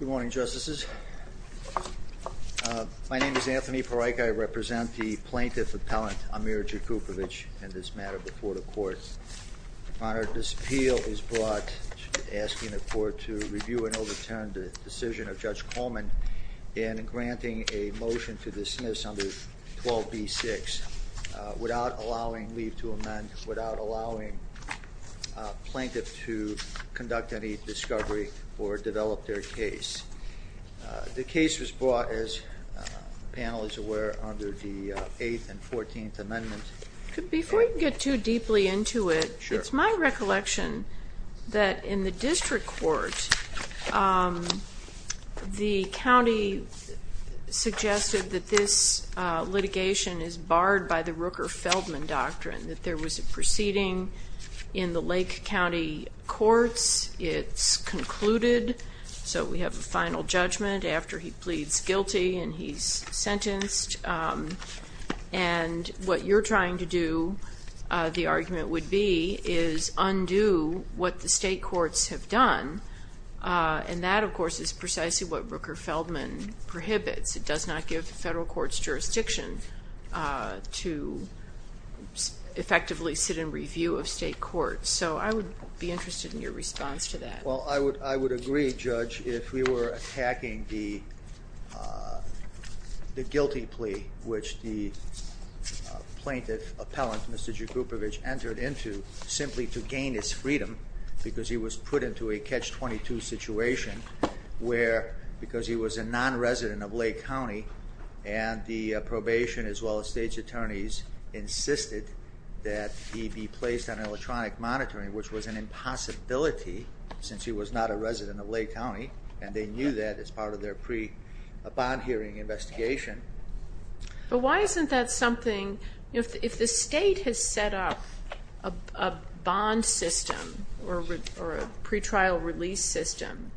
Good morning, Justices. My name is Anthony Pareik. I represent the plaintiff appellant Amir Jakupovic in this matter before the court. Your Honor, this appeal is brought asking the court to review and overturn the decision of Judge Coleman in granting a motion to dismiss under 12b-6 without allowing leave to amend, without allowing plaintiff to conduct any discovery or develop their case. The case was brought, as the panel is aware, under the 8th and 14th amendments. Before you get too deeply into it, it's my recollection that in the district court the county suggested that this litigation is barred by the Rooker-Feldman doctrine, that there was a lake county courts. It's concluded, so we have a final judgment after he pleads guilty and he's sentenced. And what you're trying to do, the argument would be, is undo what the state courts have done. And that, of course, is precisely what Rooker-Feldman prohibits. It does not give the federal courts jurisdiction to effectively sit in review of state courts. So I would be interested in your response to that. Well, I would agree, Judge, if we were attacking the guilty plea, which the plaintiff appellant, Mr. Jakupovic, entered into simply to gain his freedom because he was put into a catch-22 situation where, because he was a non-resident of Lake County, and the probation as well as state's attorneys insisted that he be placed on electronic monitoring, which was an impossibility since he was not a resident of Lake County, and they knew that as part of their pre-bond hearing investigation. But why isn't that something, if the state has set up a bond system or a pretrial release system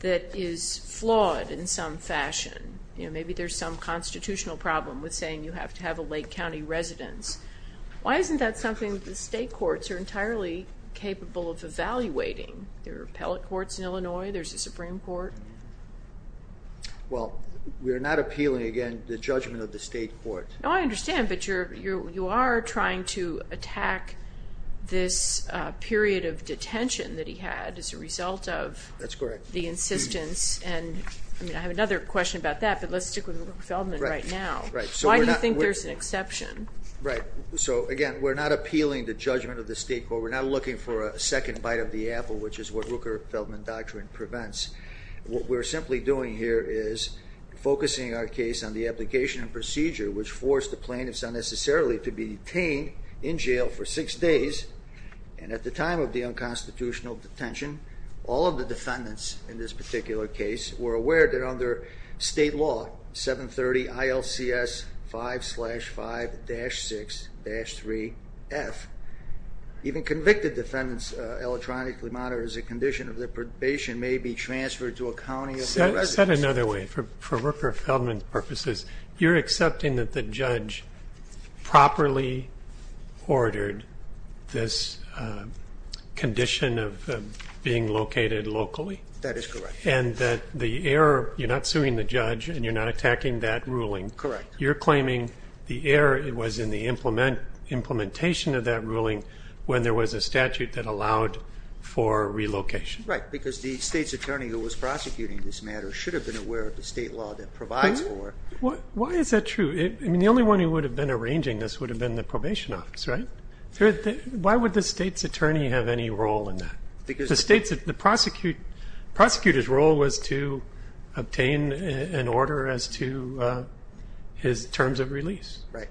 that is flawed in some fashion, maybe there's some constitutional problem with saying you have to have a Lake County residence, why isn't that something the state courts are entirely capable of evaluating? There are appellate courts in Illinois, there's a Supreme Court. Well, we're not appealing, again, the judgment of the state court. No, I understand, but you are trying to correct the insistence, and I have another question about that, but let's stick with Rooker-Feldman right now. Why do you think there's an exception? Right, so again, we're not appealing the judgment of the state court, we're not looking for a second bite of the apple, which is what Rooker-Feldman doctrine prevents. What we're simply doing here is focusing our case on the application and procedure which forced the plaintiffs unnecessarily to be detained in jail for six days, and at the time of the unconstitutional detention, all of the defendants in this particular case were aware that under state law 730 ILCS 5 slash 5 dash 6 dash 3 F, even convicted defendants electronically monitored as a condition of their probation may be transferred to a county of residence. Said another way, for Rooker-Feldman's purposes, you're accepting that the judge properly ordered this condition of being located locally? That is correct. And that the error, you're not suing the judge and you're not attacking that ruling? Correct. You're claiming the error was in the implementation of that ruling when there was a statute that allowed for relocation? Right, because the state's attorney who was prosecuting this matter should have been aware of the state law that provides for it. Why is that true? I mean, the only one who would have been arranging this would have been the probation office, right? Why would the state's attorney have any role in that? The prosecutor's role was to obtain an order as to his terms of release. Right.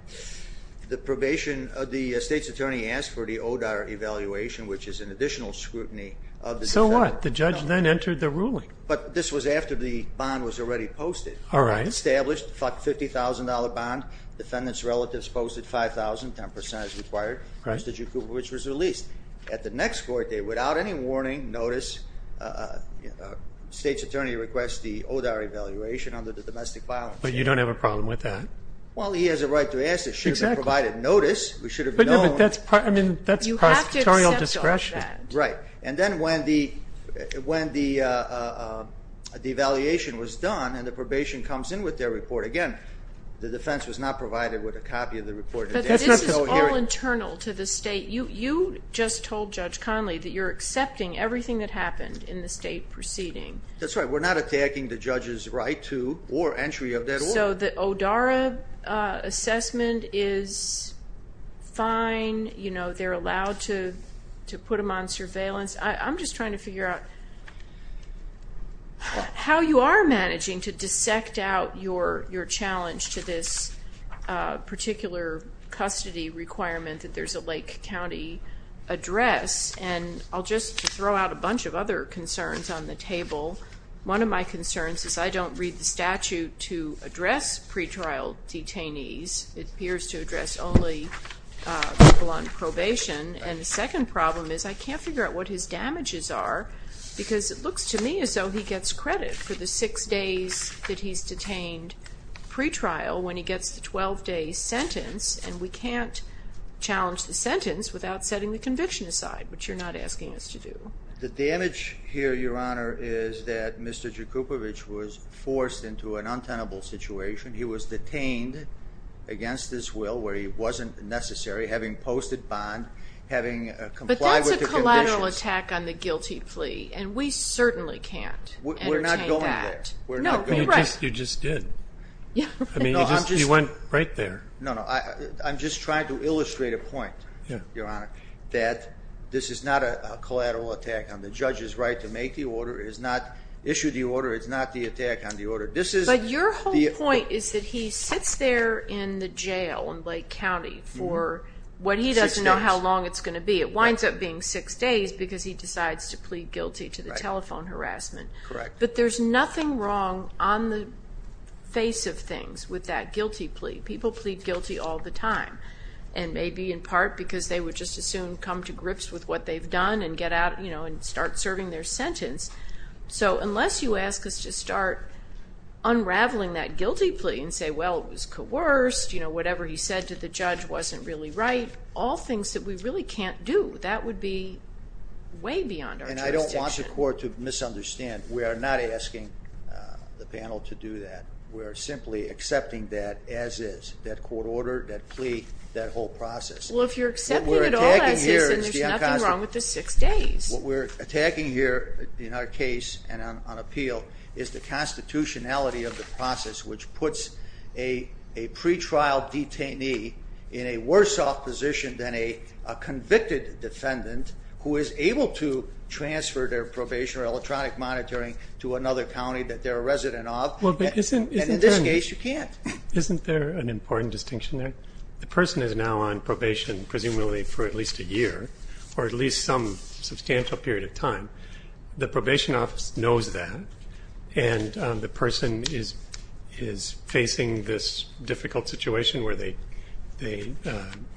The probation, the state's attorney asked for the ODAR evaluation, which is an additional scrutiny. So what? The judge then entered the ruling. But this was after the bond was already posted. All right. Established $50,000 bond, defendant's relatives posted $5,000, 10% as required, which was released. At the next court date, without any warning, notice, state's attorney requests the ODAR evaluation under the domestic violence. But you don't have a problem with that? Well, he has a right to ask. It should have provided notice. We should have known. But that's prosecutorial discretion. Right. And then when the when the devaluation was done and the probation comes in with their report, again, the defense was not provided with a copy of the report. But to the state, you just told Judge Conley that you're accepting everything that happened in the state proceeding. That's right. We're not attacking the judge's right to or entry of that order. So the ODAR assessment is fine. They're allowed to put them on surveillance. I'm just trying to figure out how you are managing to dissect out your challenge to this particular custody requirement that there's a Lake County address. And I'll just throw out a bunch of other concerns on the table. One of my concerns is I don't read the statute to address pretrial detainees. It appears to address only people on probation. And the second problem is I can't figure out what his damages are because it looks to me as though he gets credit for the six days that he's detained pretrial when he gets the 12-day sentence. And we can't challenge the sentence without setting the conviction aside, which you're not asking us to do. The damage here, Your Honor, is that Mr. Jakubowicz was forced into an untenable situation. He was detained against his will where he wasn't necessary, having posted bond, having complied with the conditions. But that's a collateral attack on the guilty plea. And we certainly can't entertain that. No, you're right. You just did. I mean, you went right there. No, no. I'm just trying to illustrate a point, Your Honor, that this is not a collateral attack on the judge's right to make the order, is not issue the order, it's not the attack on the order. But your whole point is that he sits there in the jail in Lake County for what he doesn't know how long it's going to be. It winds up being six days because he decides to plead guilty to the telephone harassment. Correct. But there's nothing wrong on the face of things with that guilty plea. People plead guilty all the time, and maybe in part because they would just as soon come to grips with what they've done and get out, you know, and start serving their sentence. So unless you ask us to start unraveling that guilty plea and say, well, it was coerced, you know, whatever he said to the judge wasn't really right, all things that we really can't do, that would be way beyond our jurisdiction. And I don't want the court to misunderstand. We are not asking the panel to do that. We're simply accepting that as is, that court order, that plea, that whole process. Well, if you're accepting it all as is, then there's nothing wrong with the six days. What we're attacking here in our case and on appeal is the constitutionality of the process, which puts a pretrial detainee in a worse off position than a convicted defendant who is able to transfer their probation or electronic monitoring to another county that they're a resident of. Well, but isn't in this case you can't. Isn't there an important distinction there? The person is now on probation, presumably for at least a year, or at least some substantial period of time. The probation office knows that, and the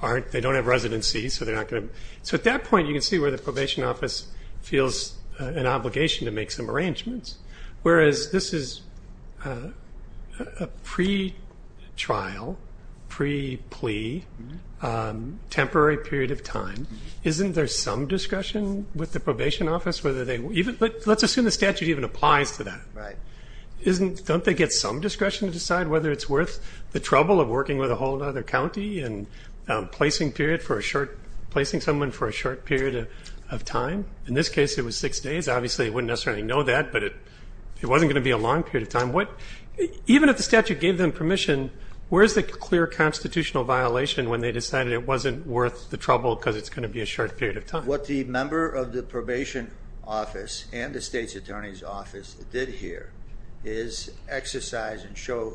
aren't, they don't have residency, so they're not going to. So at that point you can see where the probation office feels an obligation to make some arrangements, whereas this is a pretrial, pre-plea, temporary period of time. Isn't there some discretion with the probation office, whether they, even, let's assume the statute even applies to that. Right. Isn't, don't they get some discretion to decide whether it's worth the trouble of working with a whole other county and placing period for a short, placing someone for a short period of time? In this case it was six days. Obviously they wouldn't necessarily know that, but it wasn't going to be a long period of time. What, even if the statute gave them permission, where's the clear constitutional violation when they decided it wasn't worth the trouble because it's going to be a short period of time? What the member of the probation office and the state's attorney's office did here is exercise and show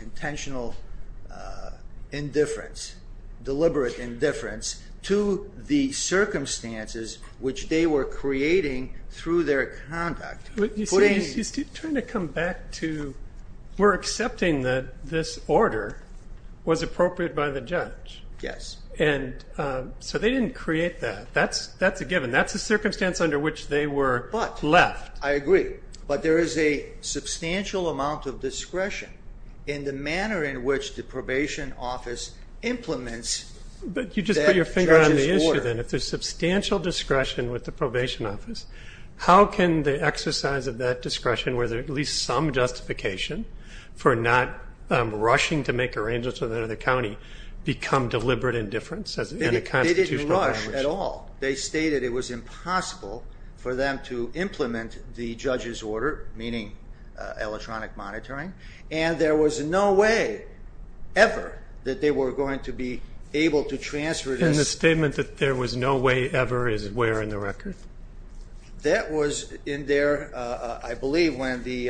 intentional indifference, deliberate indifference, to the circumstances which they were creating through their conduct. You see, he's trying to come back to, we're accepting that this order was appropriate by the judge. Yes. And so they didn't create that. That's a given. That's a circumstance under which they were left. But, I agree, but there is a substantial amount of discretion in the manner in which the probation office implements that judge's order. But you just put your finger on the issue then. If there's substantial discretion with the probation office, how can the exercise of that discretion, where there's at least some justification for not rushing to make arrangements with another county, become deliberate indifference in a constitutional violation? They didn't rush at all. They stated it was impossible for them to implement the judge's order, meaning electronic monitoring, and there was no way ever that they were going to be able to transfer this. And the statement that there was no way ever is where in the record? That was in there, I believe, when the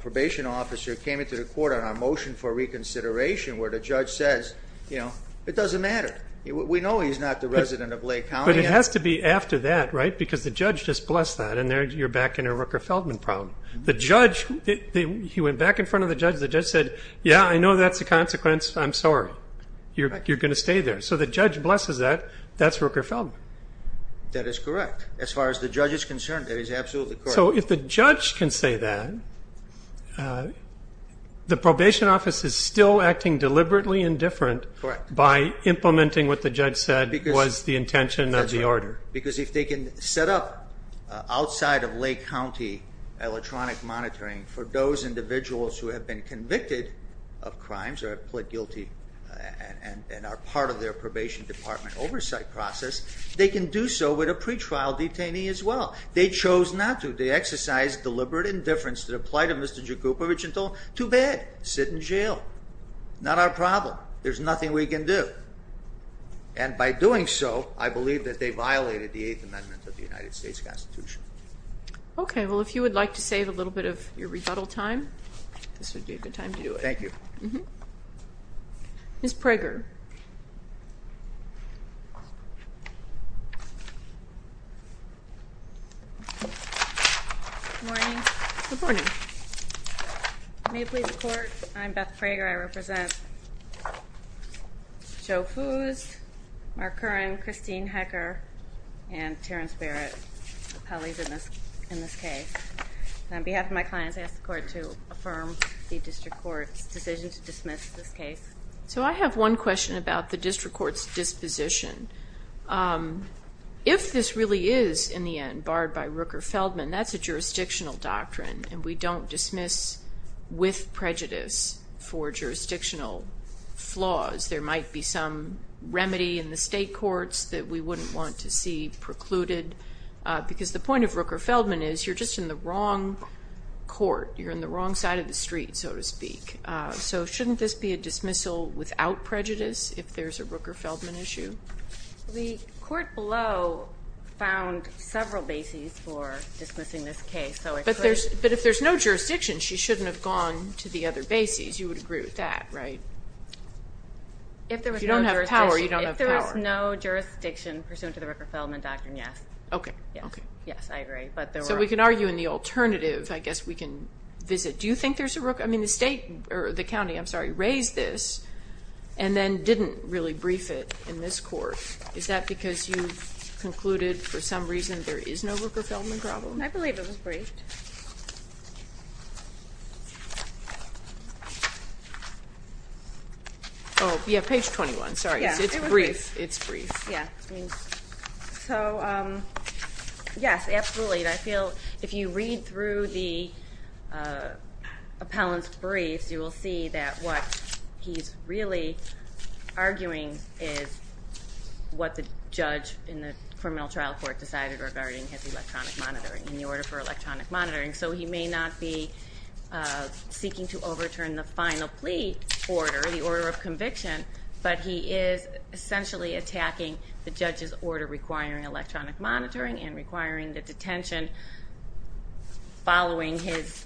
probation officer came into the court on our motion for reconsideration, where the judge says, you know, it doesn't matter. We know he's not the resident of Lake County. But it has to be after that, right? Because the judge just blessed that, and there you're back in a Rooker-Feldman problem. The judge, he went back in front of the judge, the judge said, yeah, I know that's a consequence. I'm sorry. You're going to stay there. So the judge blesses that. That's Rooker-Feldman. That is correct. As far as the judge is concerned, that is absolutely correct. So if the judge can say that, the probation office is still acting deliberately indifferent by implementing what the judge said was the intention of the order. Because if they can set up outside of Lake County electronic monitoring for those individuals who have been convicted of crimes or have pled guilty and are part of their probation department oversight process, they can do so with a pretrial detainee as well. They chose not to. They exercised deliberate indifference to the plight of Mr. Jakubowicz and told, too bad. Sit in jail. Not our problem. There's nothing we can do. And by doing so, I believe that they violated the Eighth Amendment of the United States Constitution. Okay. Well, if you would like to save a little bit of your rebuttal time, this would be a good time to do it. Thank you. Mm-hmm. Ms. Prager. Good morning. Good morning. May it please the Court, I'm Beth Prager. I represent Joe Foos, Mark Curran, Christine Hecker, and Terrence Barrett, appellees in this case. On behalf of my clients, I ask the Court to affirm the about the district court's disposition. If this really is, in the end, barred by Rooker-Feldman, that's a jurisdictional doctrine and we don't dismiss with prejudice for jurisdictional flaws. There might be some remedy in the state courts that we wouldn't want to see precluded because the point of Rooker-Feldman is you're just in the wrong court. You're in the wrong side of the street, so to speak. So shouldn't this be a dismissal without prejudice if there's a Rooker-Feldman issue? The court below found several bases for dismissing this case. But if there's no jurisdiction, she shouldn't have gone to the other bases. You would agree with that, right? If there was no jurisdiction pursuant to the Rooker-Feldman doctrine, yes. Okay. Yes, I agree. So we can argue in the alternative. I guess we can visit. Do you think there's a Rooker-Feldman? I mean the state, or the county, I'm sorry, raised this and then didn't really brief it in this court. Is that because you concluded for some reason there is no Rooker-Feldman problem? I believe it was briefed. Oh yeah, page 21. Sorry. It's brief. It's brief. Yeah. So yes, absolutely. I feel if you read through the appellant's briefs, you will see that what he's really arguing is what the judge in the criminal trial court decided regarding his electronic monitoring and the order for electronic monitoring. So he may not be seeking to overturn the final plea order, the order of conviction, but he is essentially attacking the judge's order requiring electronic monitoring and requiring the following his,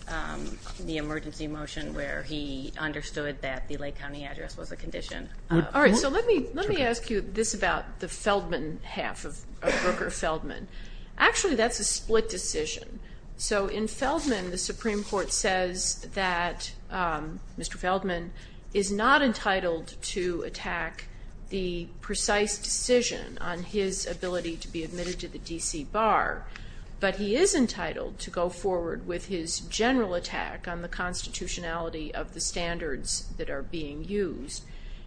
the emergency motion where he understood that the Lake County address was a condition. All right, so let me let me ask you this about the Feldman half of Rooker-Feldman. Actually, that's a split decision. So in Feldman, the Supreme Court says that Mr. Feldman is not entitled to attack the precise decision on his ability to be admitted to the DC bar, but he is entitled to go forward with his general attack on the constitutionality of the standards that are being used.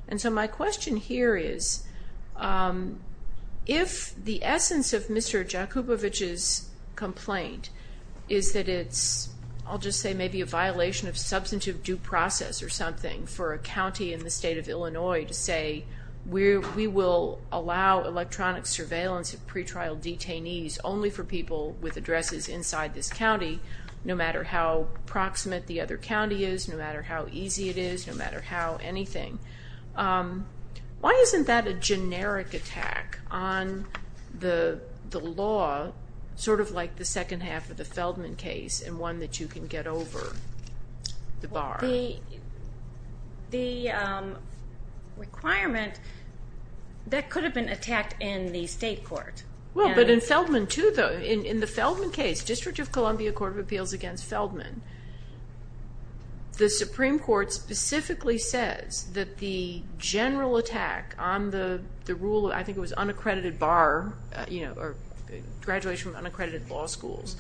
And so my question here is, if the essence of Mr. Jakubowicz's complaint is that it's, I'll just say, maybe a violation of substantive due process or something for a county in the state of Illinois to say, we will allow electronic surveillance of pretrial detainees only for people with addresses inside this county, no matter how proximate the other county is, no matter how easy it is, no matter how anything, why isn't that a generic attack on the law, sort of like the second half of the Feldman case and one that you can get over the bar? The requirement, that could have been attacked in the state court. Well, but in Feldman too, though, in the Feldman case, District of Columbia Court of Appeals against Feldman, the Supreme Court specifically says that the general attack on the rule, I think it was unaccredited bar, you know, or graduation from unaccredited law schools,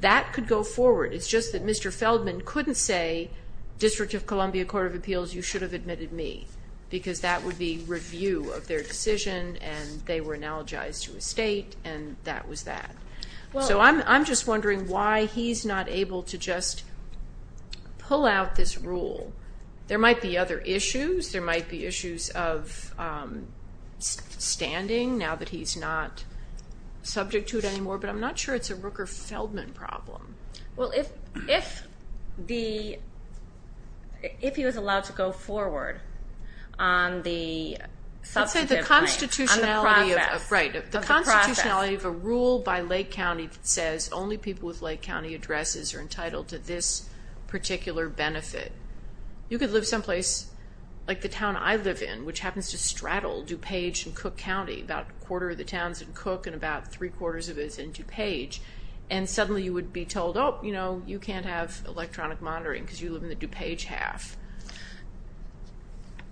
that could go forward. It's just that Mr. Feldman couldn't say, District of Columbia Court of Appeals, you should have admitted me, because that would be review of their decision and they were analogized to a state and that was that. So I'm just wondering why he's not able to just pull out this rule. There might be other issues, there might be issues of standing, now that he's not subject to it anymore, but I'm not sure it's a Rooker-Feldman problem. Well, if he was allowed to go forward on the constitutionality of a rule by Lake County that says only people with Lake County addresses are entitled to this particular benefit, you could live someplace like the town I live in, which happens to straddle DuPage and Cook County, about a quarter of the towns in Cook and about three-quarters of it is in DuPage, and suddenly you would be told, oh, you know, you can't have electronic monitoring because you live in the DuPage half.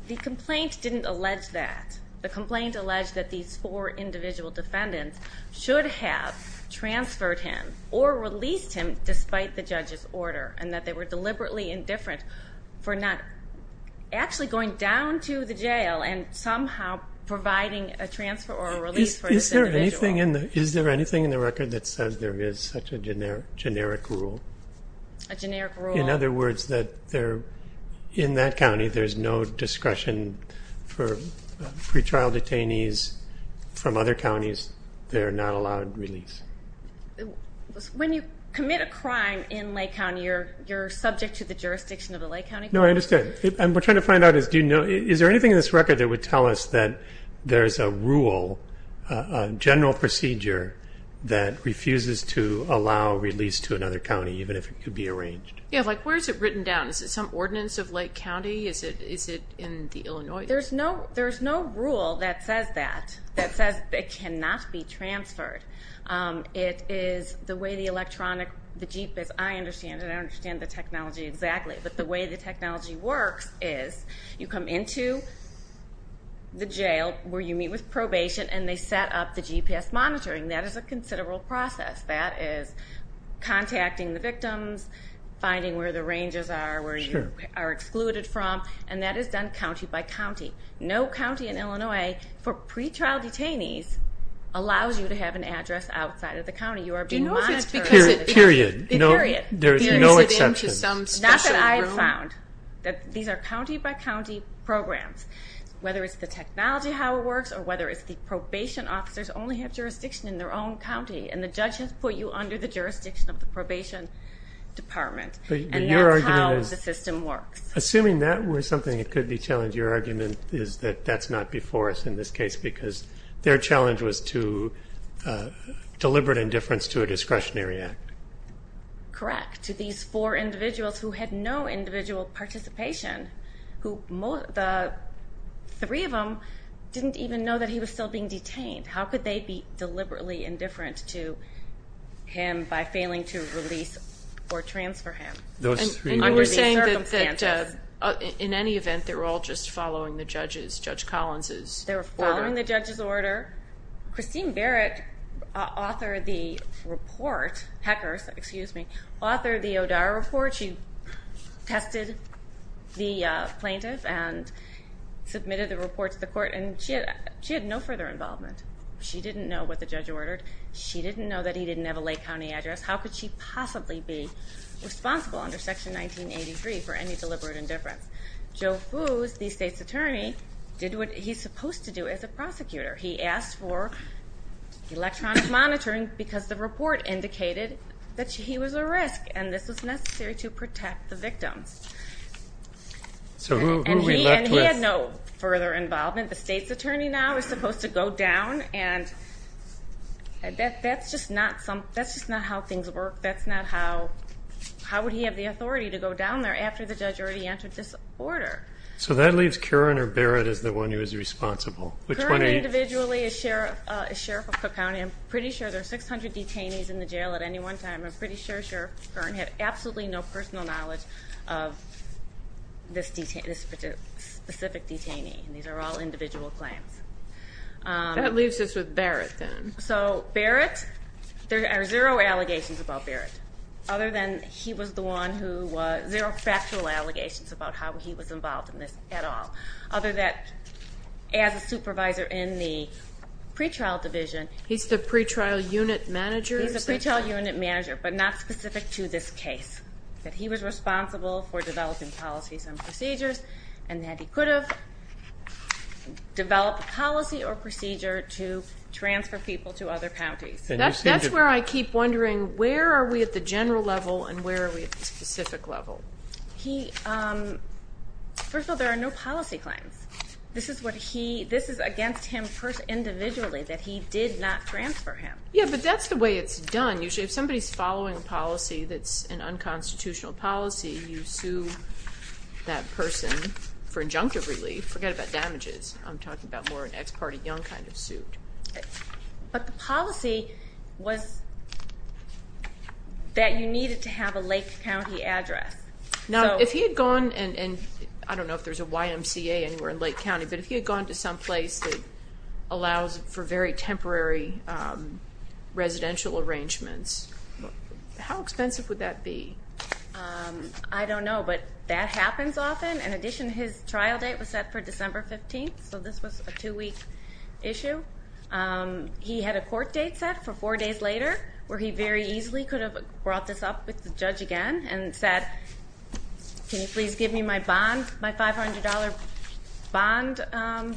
The complaint didn't allege that. The complaint alleged that these four individual defendants should have transferred him or released him despite the judge's order and that they were deliberately indifferent for not actually going down to the jail and somehow providing a transfer or a release for this individual. Is there anything in the record that says there is such a generic rule? A generic rule? In other words, that there, in that county, there's no discretion for pretrial detainees from other counties. They're not allowed release. When you commit a crime in Lake County, you're subject to the jurisdiction of the Lake County Court? No, I understand. I'm trying to find out is, do you know, is there anything in this that refuses to allow release to another county even if it could be arranged? Yeah, like where is it written down? Is it some ordinance of Lake County? Is it in the Illinois? There's no rule that says that, that says it cannot be transferred. It is the way the electronic, the Jeep is, I understand it, I understand the technology exactly, but the way the technology works is you come into the jail where you meet with probation and they set up the GPS monitoring. That is a considerable process. That is contacting the victims, finding where the ranges are, where you are excluded from, and that is done county by county. No county in Illinois for pretrial detainees allows you to have an address outside of the county. You are being monitored. Do you know if it's because it, period. There is no exception. Period. Is it into some special room? Not that I have found. These are county by county programs. Whether it's the technology, how it works, or whether it's the probation officers only have jurisdiction in their own county, and the judge has put you under the jurisdiction of the probation department, and that's how the system works. Assuming that were something that could be challenged, your argument is that that's not before us in this case because their challenge was to deliberate indifference to a discretionary act. Correct. To these four individuals who had no individual participation, who, the three of them didn't even know that he was still being detained. How could they be indifferent to him by failing to release or transfer him? And you were saying that, in any event, they were all just following the judge's, Judge Collins' order? They were following the judge's order. Christine Barrett, author of the report, Hecker's, excuse me, author of the O'Dara report, she tested the plaintiff and submitted the report to the court, and she had no further involvement. She didn't know what the judge ordered. She didn't know that he didn't have a Lake County address. How could she possibly be responsible under Section 1983 for any deliberate indifference? Joe Foos, the state's attorney, did what he's supposed to do as a prosecutor. He asked for electronic monitoring because the report indicated that he was at risk, and this was necessary to protect the victims. So who are we left with? And he had no further involvement. The state's attorney now is supposed to go down, and that's just not how things work. That's not how, how would he have the authority to go down there after the judge already entered this order? So that leaves Curran or Barrett as the one who is responsible. Curran individually is Sheriff of Cook County. I'm pretty sure there are 600 detainees in the jail at any one time. I'm pretty sure Sheriff Curran had absolutely no personal knowledge of this specific detainee, and these are all individual claims. That leaves us with Barrett then. So Barrett, there are zero allegations about Barrett, other than he was the one who, zero factual allegations about how he was involved in this at all. Other than as a supervisor in the pretrial division. He's the pretrial unit manager? He's the pretrial unit manager, but not specific to this case. That he was responsible for developing policies and procedures, and that he could have developed a policy or procedure to transfer people to other counties. That's where I keep wondering, where are we at the general level, and where are we at the specific level? He, first of all, there are no policy claims. This is what he, this is against him individually, that he did not transfer him. Yeah, but that's the way it's done. Usually if somebody's following a policy that's an unconstitutional policy, you sue that person for injunctive relief. Forget about damages. I'm talking about more an ex parte young kind of suit. But the policy was that you needed to have a Lake County address. Now, if he had gone, and I don't know if there's a YMCA anywhere in Lake County, but if he had gone to some place that allows for very temporary residential arrangements, how expensive would that be? I don't know, but that happens often. In addition, his trial date was set for December 15th, so this was a two week issue. He had a court date set for four days later, where he very easily could have brought this up with the judge again and said, can you please give me my bond, my $500 bond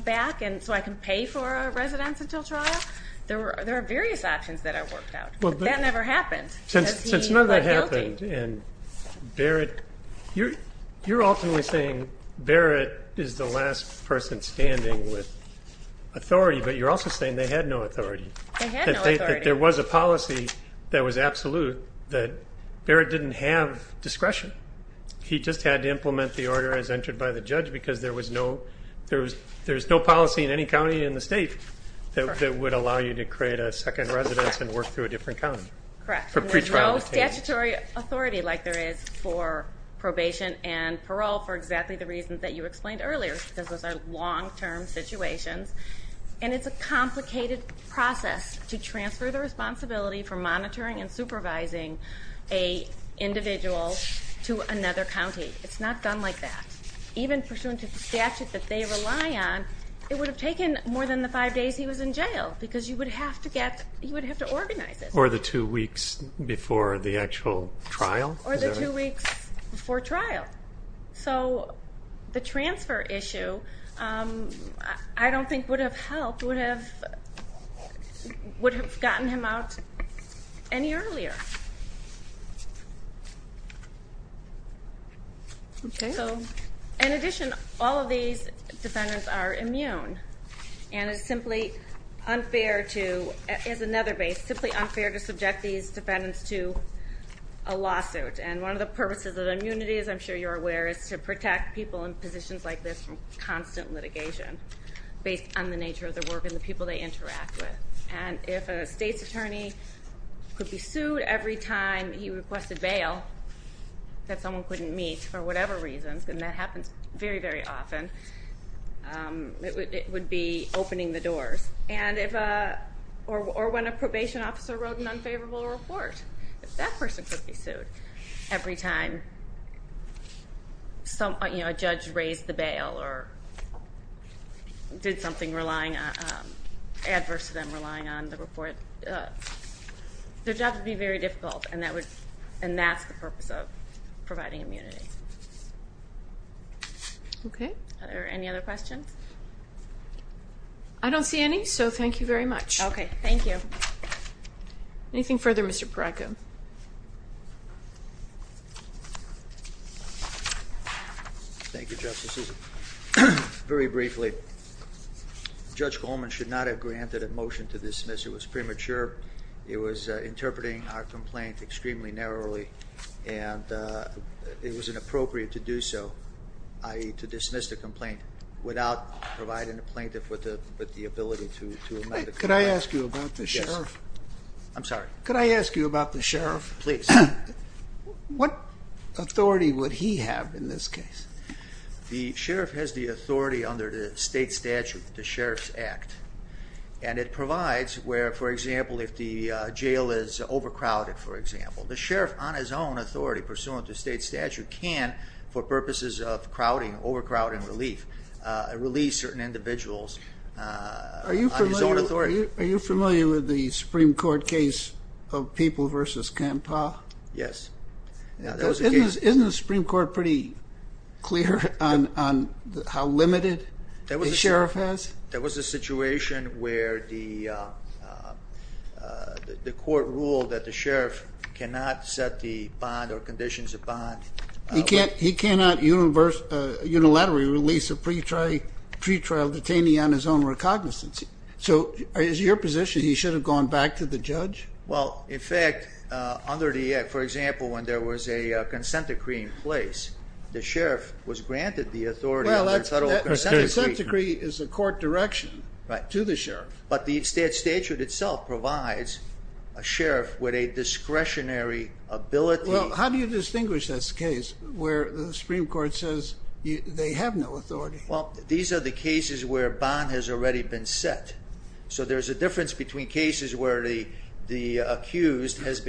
back so I can pay for a residence until trial? There are various options that are worked out, but that never happened. Since none of that happened, and Barrett, you're ultimately saying Barrett is the last person standing with authority, but you're also saying they had no authority. There was a policy that was absolute that Barrett didn't have discretion. He just had to implement the order as entered by the judge because there was no policy in any county in the state that would allow you to create a second residence and work through a different county. Correct. There's no statutory authority like there is for probation and parole, for exactly the reasons that you explained earlier, because those are long term situations. And it's a complicated process to transfer the responsibility for monitoring and supervising an individual to another county. It's not done like that. Even pursuant to the statute that they rely on, it would have taken more than the five days he was in jail, because you would have to organize it. Or the two weeks before the actual trial? Or the two weeks before trial. So the transfer issue, I don't think would have helped, would have gotten him out any earlier. In addition, all of these defendants are immune. And it's simply unfair to, as another base, simply unfair to subject these defendants to a lawsuit. And one of the purposes of immunity, as I'm sure you're aware, is to protect people in positions like this from constant litigation, based on the nature of their work and the people they interact with. And if a state's attorney could be sued every time he requested bail, that someone couldn't meet for whatever reasons, and that happens very, very often, it would be opening the doors. Or when a probation officer wrote an unfavorable report, that person could be sued every time a judge raised the bail or did something adverse to them relying on the report. Their job would be very difficult, and that's the purpose of providing immunity. Are there any other questions? I don't see any, so thank you very much. Okay, thank you. Anything further, Mr. Parako? Thank you, Justice Susan. Very briefly, Judge Coleman should not have granted a motion to dismiss. It was premature. It was interpreting our complaint extremely narrowly, and it was inappropriate to do so, i.e., to dismiss the complaint without providing the plaintiff with the ability to amend the complaint. Could I ask you about the sheriff? I'm sorry? Could I ask you about the sheriff? Please. What authority would he have in this case? The sheriff has the authority under the state statute, the Sheriff's Act, and it provides where, for example, if the jail is overcrowded, for example, the sheriff on his own authority, pursuant to state statute, can, for purposes of crowding, overcrowding relief, release certain individuals on his own authority. Are you familiar with the Supreme Court case of People v. Kampah? Yes, that was the case. Isn't the Supreme Court pretty clear on how limited the sheriff has? There was a situation where the court ruled that the sheriff cannot set the bond or conditions of bond. He cannot unilaterally release a pretrial detainee on his own recognizance. So is it your position he should have gone back to the judge? Well, in fact, under the Act, for example, when there was a consent decree in place, the sheriff was granted the authority of a federal consent decree. A consent decree is a court direction to the sheriff. But the statute itself provides a sheriff with a discretionary ability. Well, how do you distinguish this case where the Supreme Court says they have no authority? Well, these are the cases where a bond has already been set. So there's a difference between cases where the accused has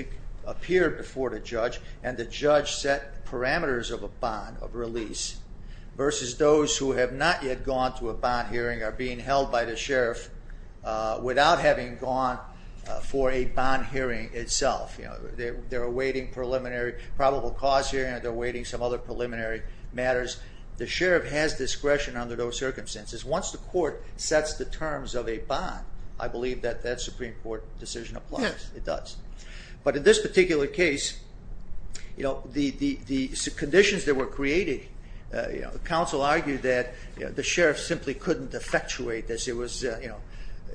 appeared before the judge and the judge set parameters of a bond of release versus those who have not yet gone to a bond hearing or are being held by the sheriff without having gone for a bond hearing itself. They're awaiting preliminary probable cause hearing or they're awaiting some other preliminary matters. The sheriff has discretion under those circumstances. Once the court sets the terms of a bond, I believe that that Supreme Court decision applies. It does. But in this particular case, the conditions that were created, counsel argued that the sheriff simply couldn't effectuate this. It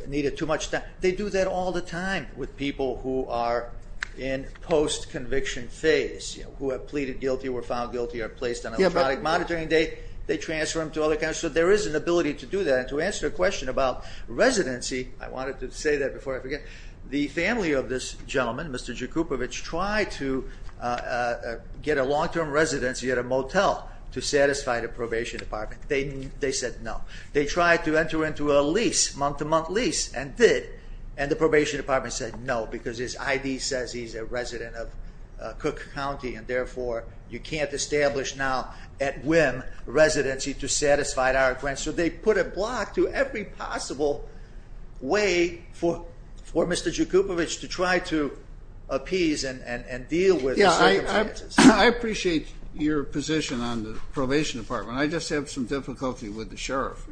needed too much time. They do that all the time with people who are in post-conviction phase, who have pleaded guilty or were found guilty or placed on an electronic monitoring date. They transfer them to other counties. So there is an ability to do that. And to answer your question about residency, I wanted to say that before I forget. The family of this gentleman, Mr. Jakubowicz, tried to get a long-term residency at a motel to satisfy the probation department. They said no. They tried to enter into a lease, month-to-month lease, and did. And the probation department said no, because his ID says he's a resident of Cook County. And therefore, you can't establish now, at whim, residency to satisfy our request. So they put a block to every possible way for Mr. Jakubowicz to try to appease and deal with the circumstances. Yeah, I appreciate your position on the probation department. I just have some difficulty with the sheriff.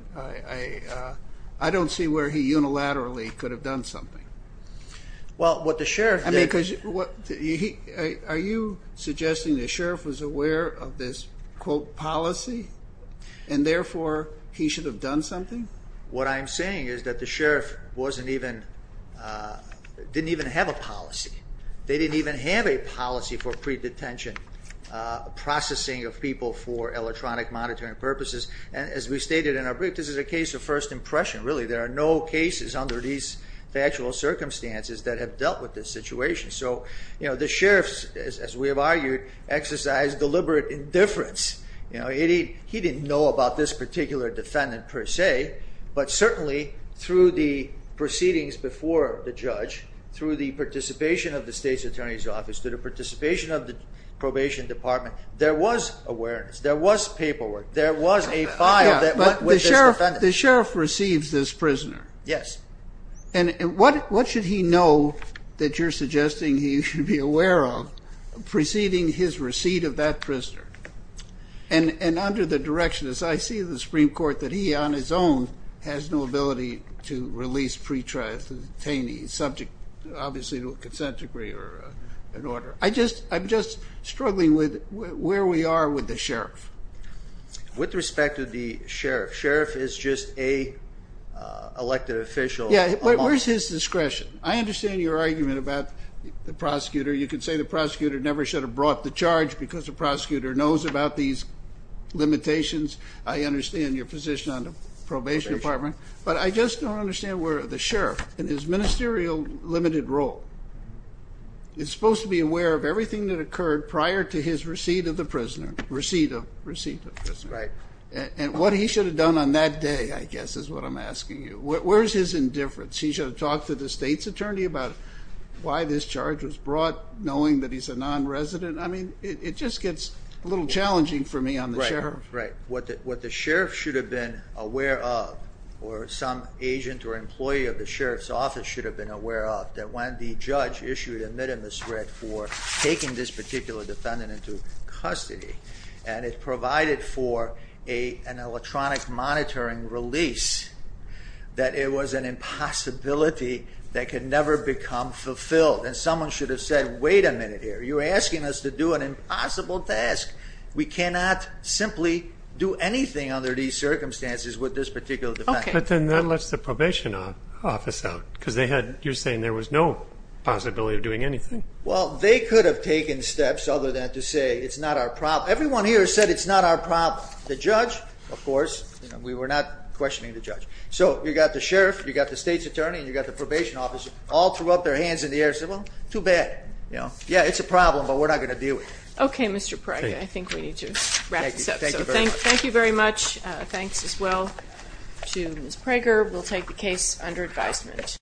I don't see where he unilaterally could have done something. Are you suggesting the sheriff was aware of this, quote, policy, and therefore he should have done something? What I'm saying is that the sheriff didn't even have a policy. They didn't even have a policy for pre-detention processing of people for electronic monitoring purposes. And as we stated in our brief, this is a case of first impression, really. There are no cases under these factual circumstances that have dealt with this situation. So the sheriff, as we have argued, exercised deliberate indifference. He didn't know about this particular defendant, per se. But certainly, through the proceedings before the judge, through the participation of the state's attorney's office, through the participation of the probation department, there was awareness. There was paperwork. There was a file that went with this defendant. But the sheriff receives this prisoner. Yes. And what should he know that you're suggesting he should be aware of preceding his receipt of that prisoner? And under the direction, as I see the Supreme Court, that he on his own has no ability to release pre-detainees, subject obviously to a consent decree or an order. I'm just struggling with where we are with the sheriff. With respect to the sheriff, sheriff is just a elected official. Yeah, but where's his discretion? I understand your argument about the prosecutor. You can say the prosecutor never should have brought the charge because the prosecutor knows about these limitations. I understand your position on the probation department. But I just don't understand where the sheriff, in his ministerial limited role, is supposed to be aware of everything that occurred prior to his receipt of the prisoner. Receipt of the prisoner. That's right. And what he should have done on that day, I guess, is what I'm asking you. Where's his indifference? He should have talked to the state's attorney about why this charge was brought, knowing that he's a non-resident. I mean, it just gets a little challenging for me on the sheriff. Right, right. What the sheriff should have been aware of, or some agent or employee of the sheriff's office should have been aware of, that when the judge issued a minimum threat for taking this particular defendant into custody and it provided for an electronic monitoring release, that it was an impossibility that could never become fulfilled. And someone should have said, wait a minute here. You're asking us to do an impossible task. We cannot simply do anything under these circumstances with this particular defendant. But then that lets the probation office out because you're saying there was no possibility of doing anything. Well, they could have taken steps other than to say it's not our problem. Everyone here has said it's not our problem. The judge, of course, we were not questioning the judge. So you've got the sheriff, you've got the state's attorney, and you've got the probation office all threw up their hands in the air and said, well, too bad. Yeah, it's a problem, but we're not going to deal with it. Okay, Mr. Pryor, I think we need to wrap this up. Thank you very much. Thanks as well to Ms. Prager. We'll take the case under advisement.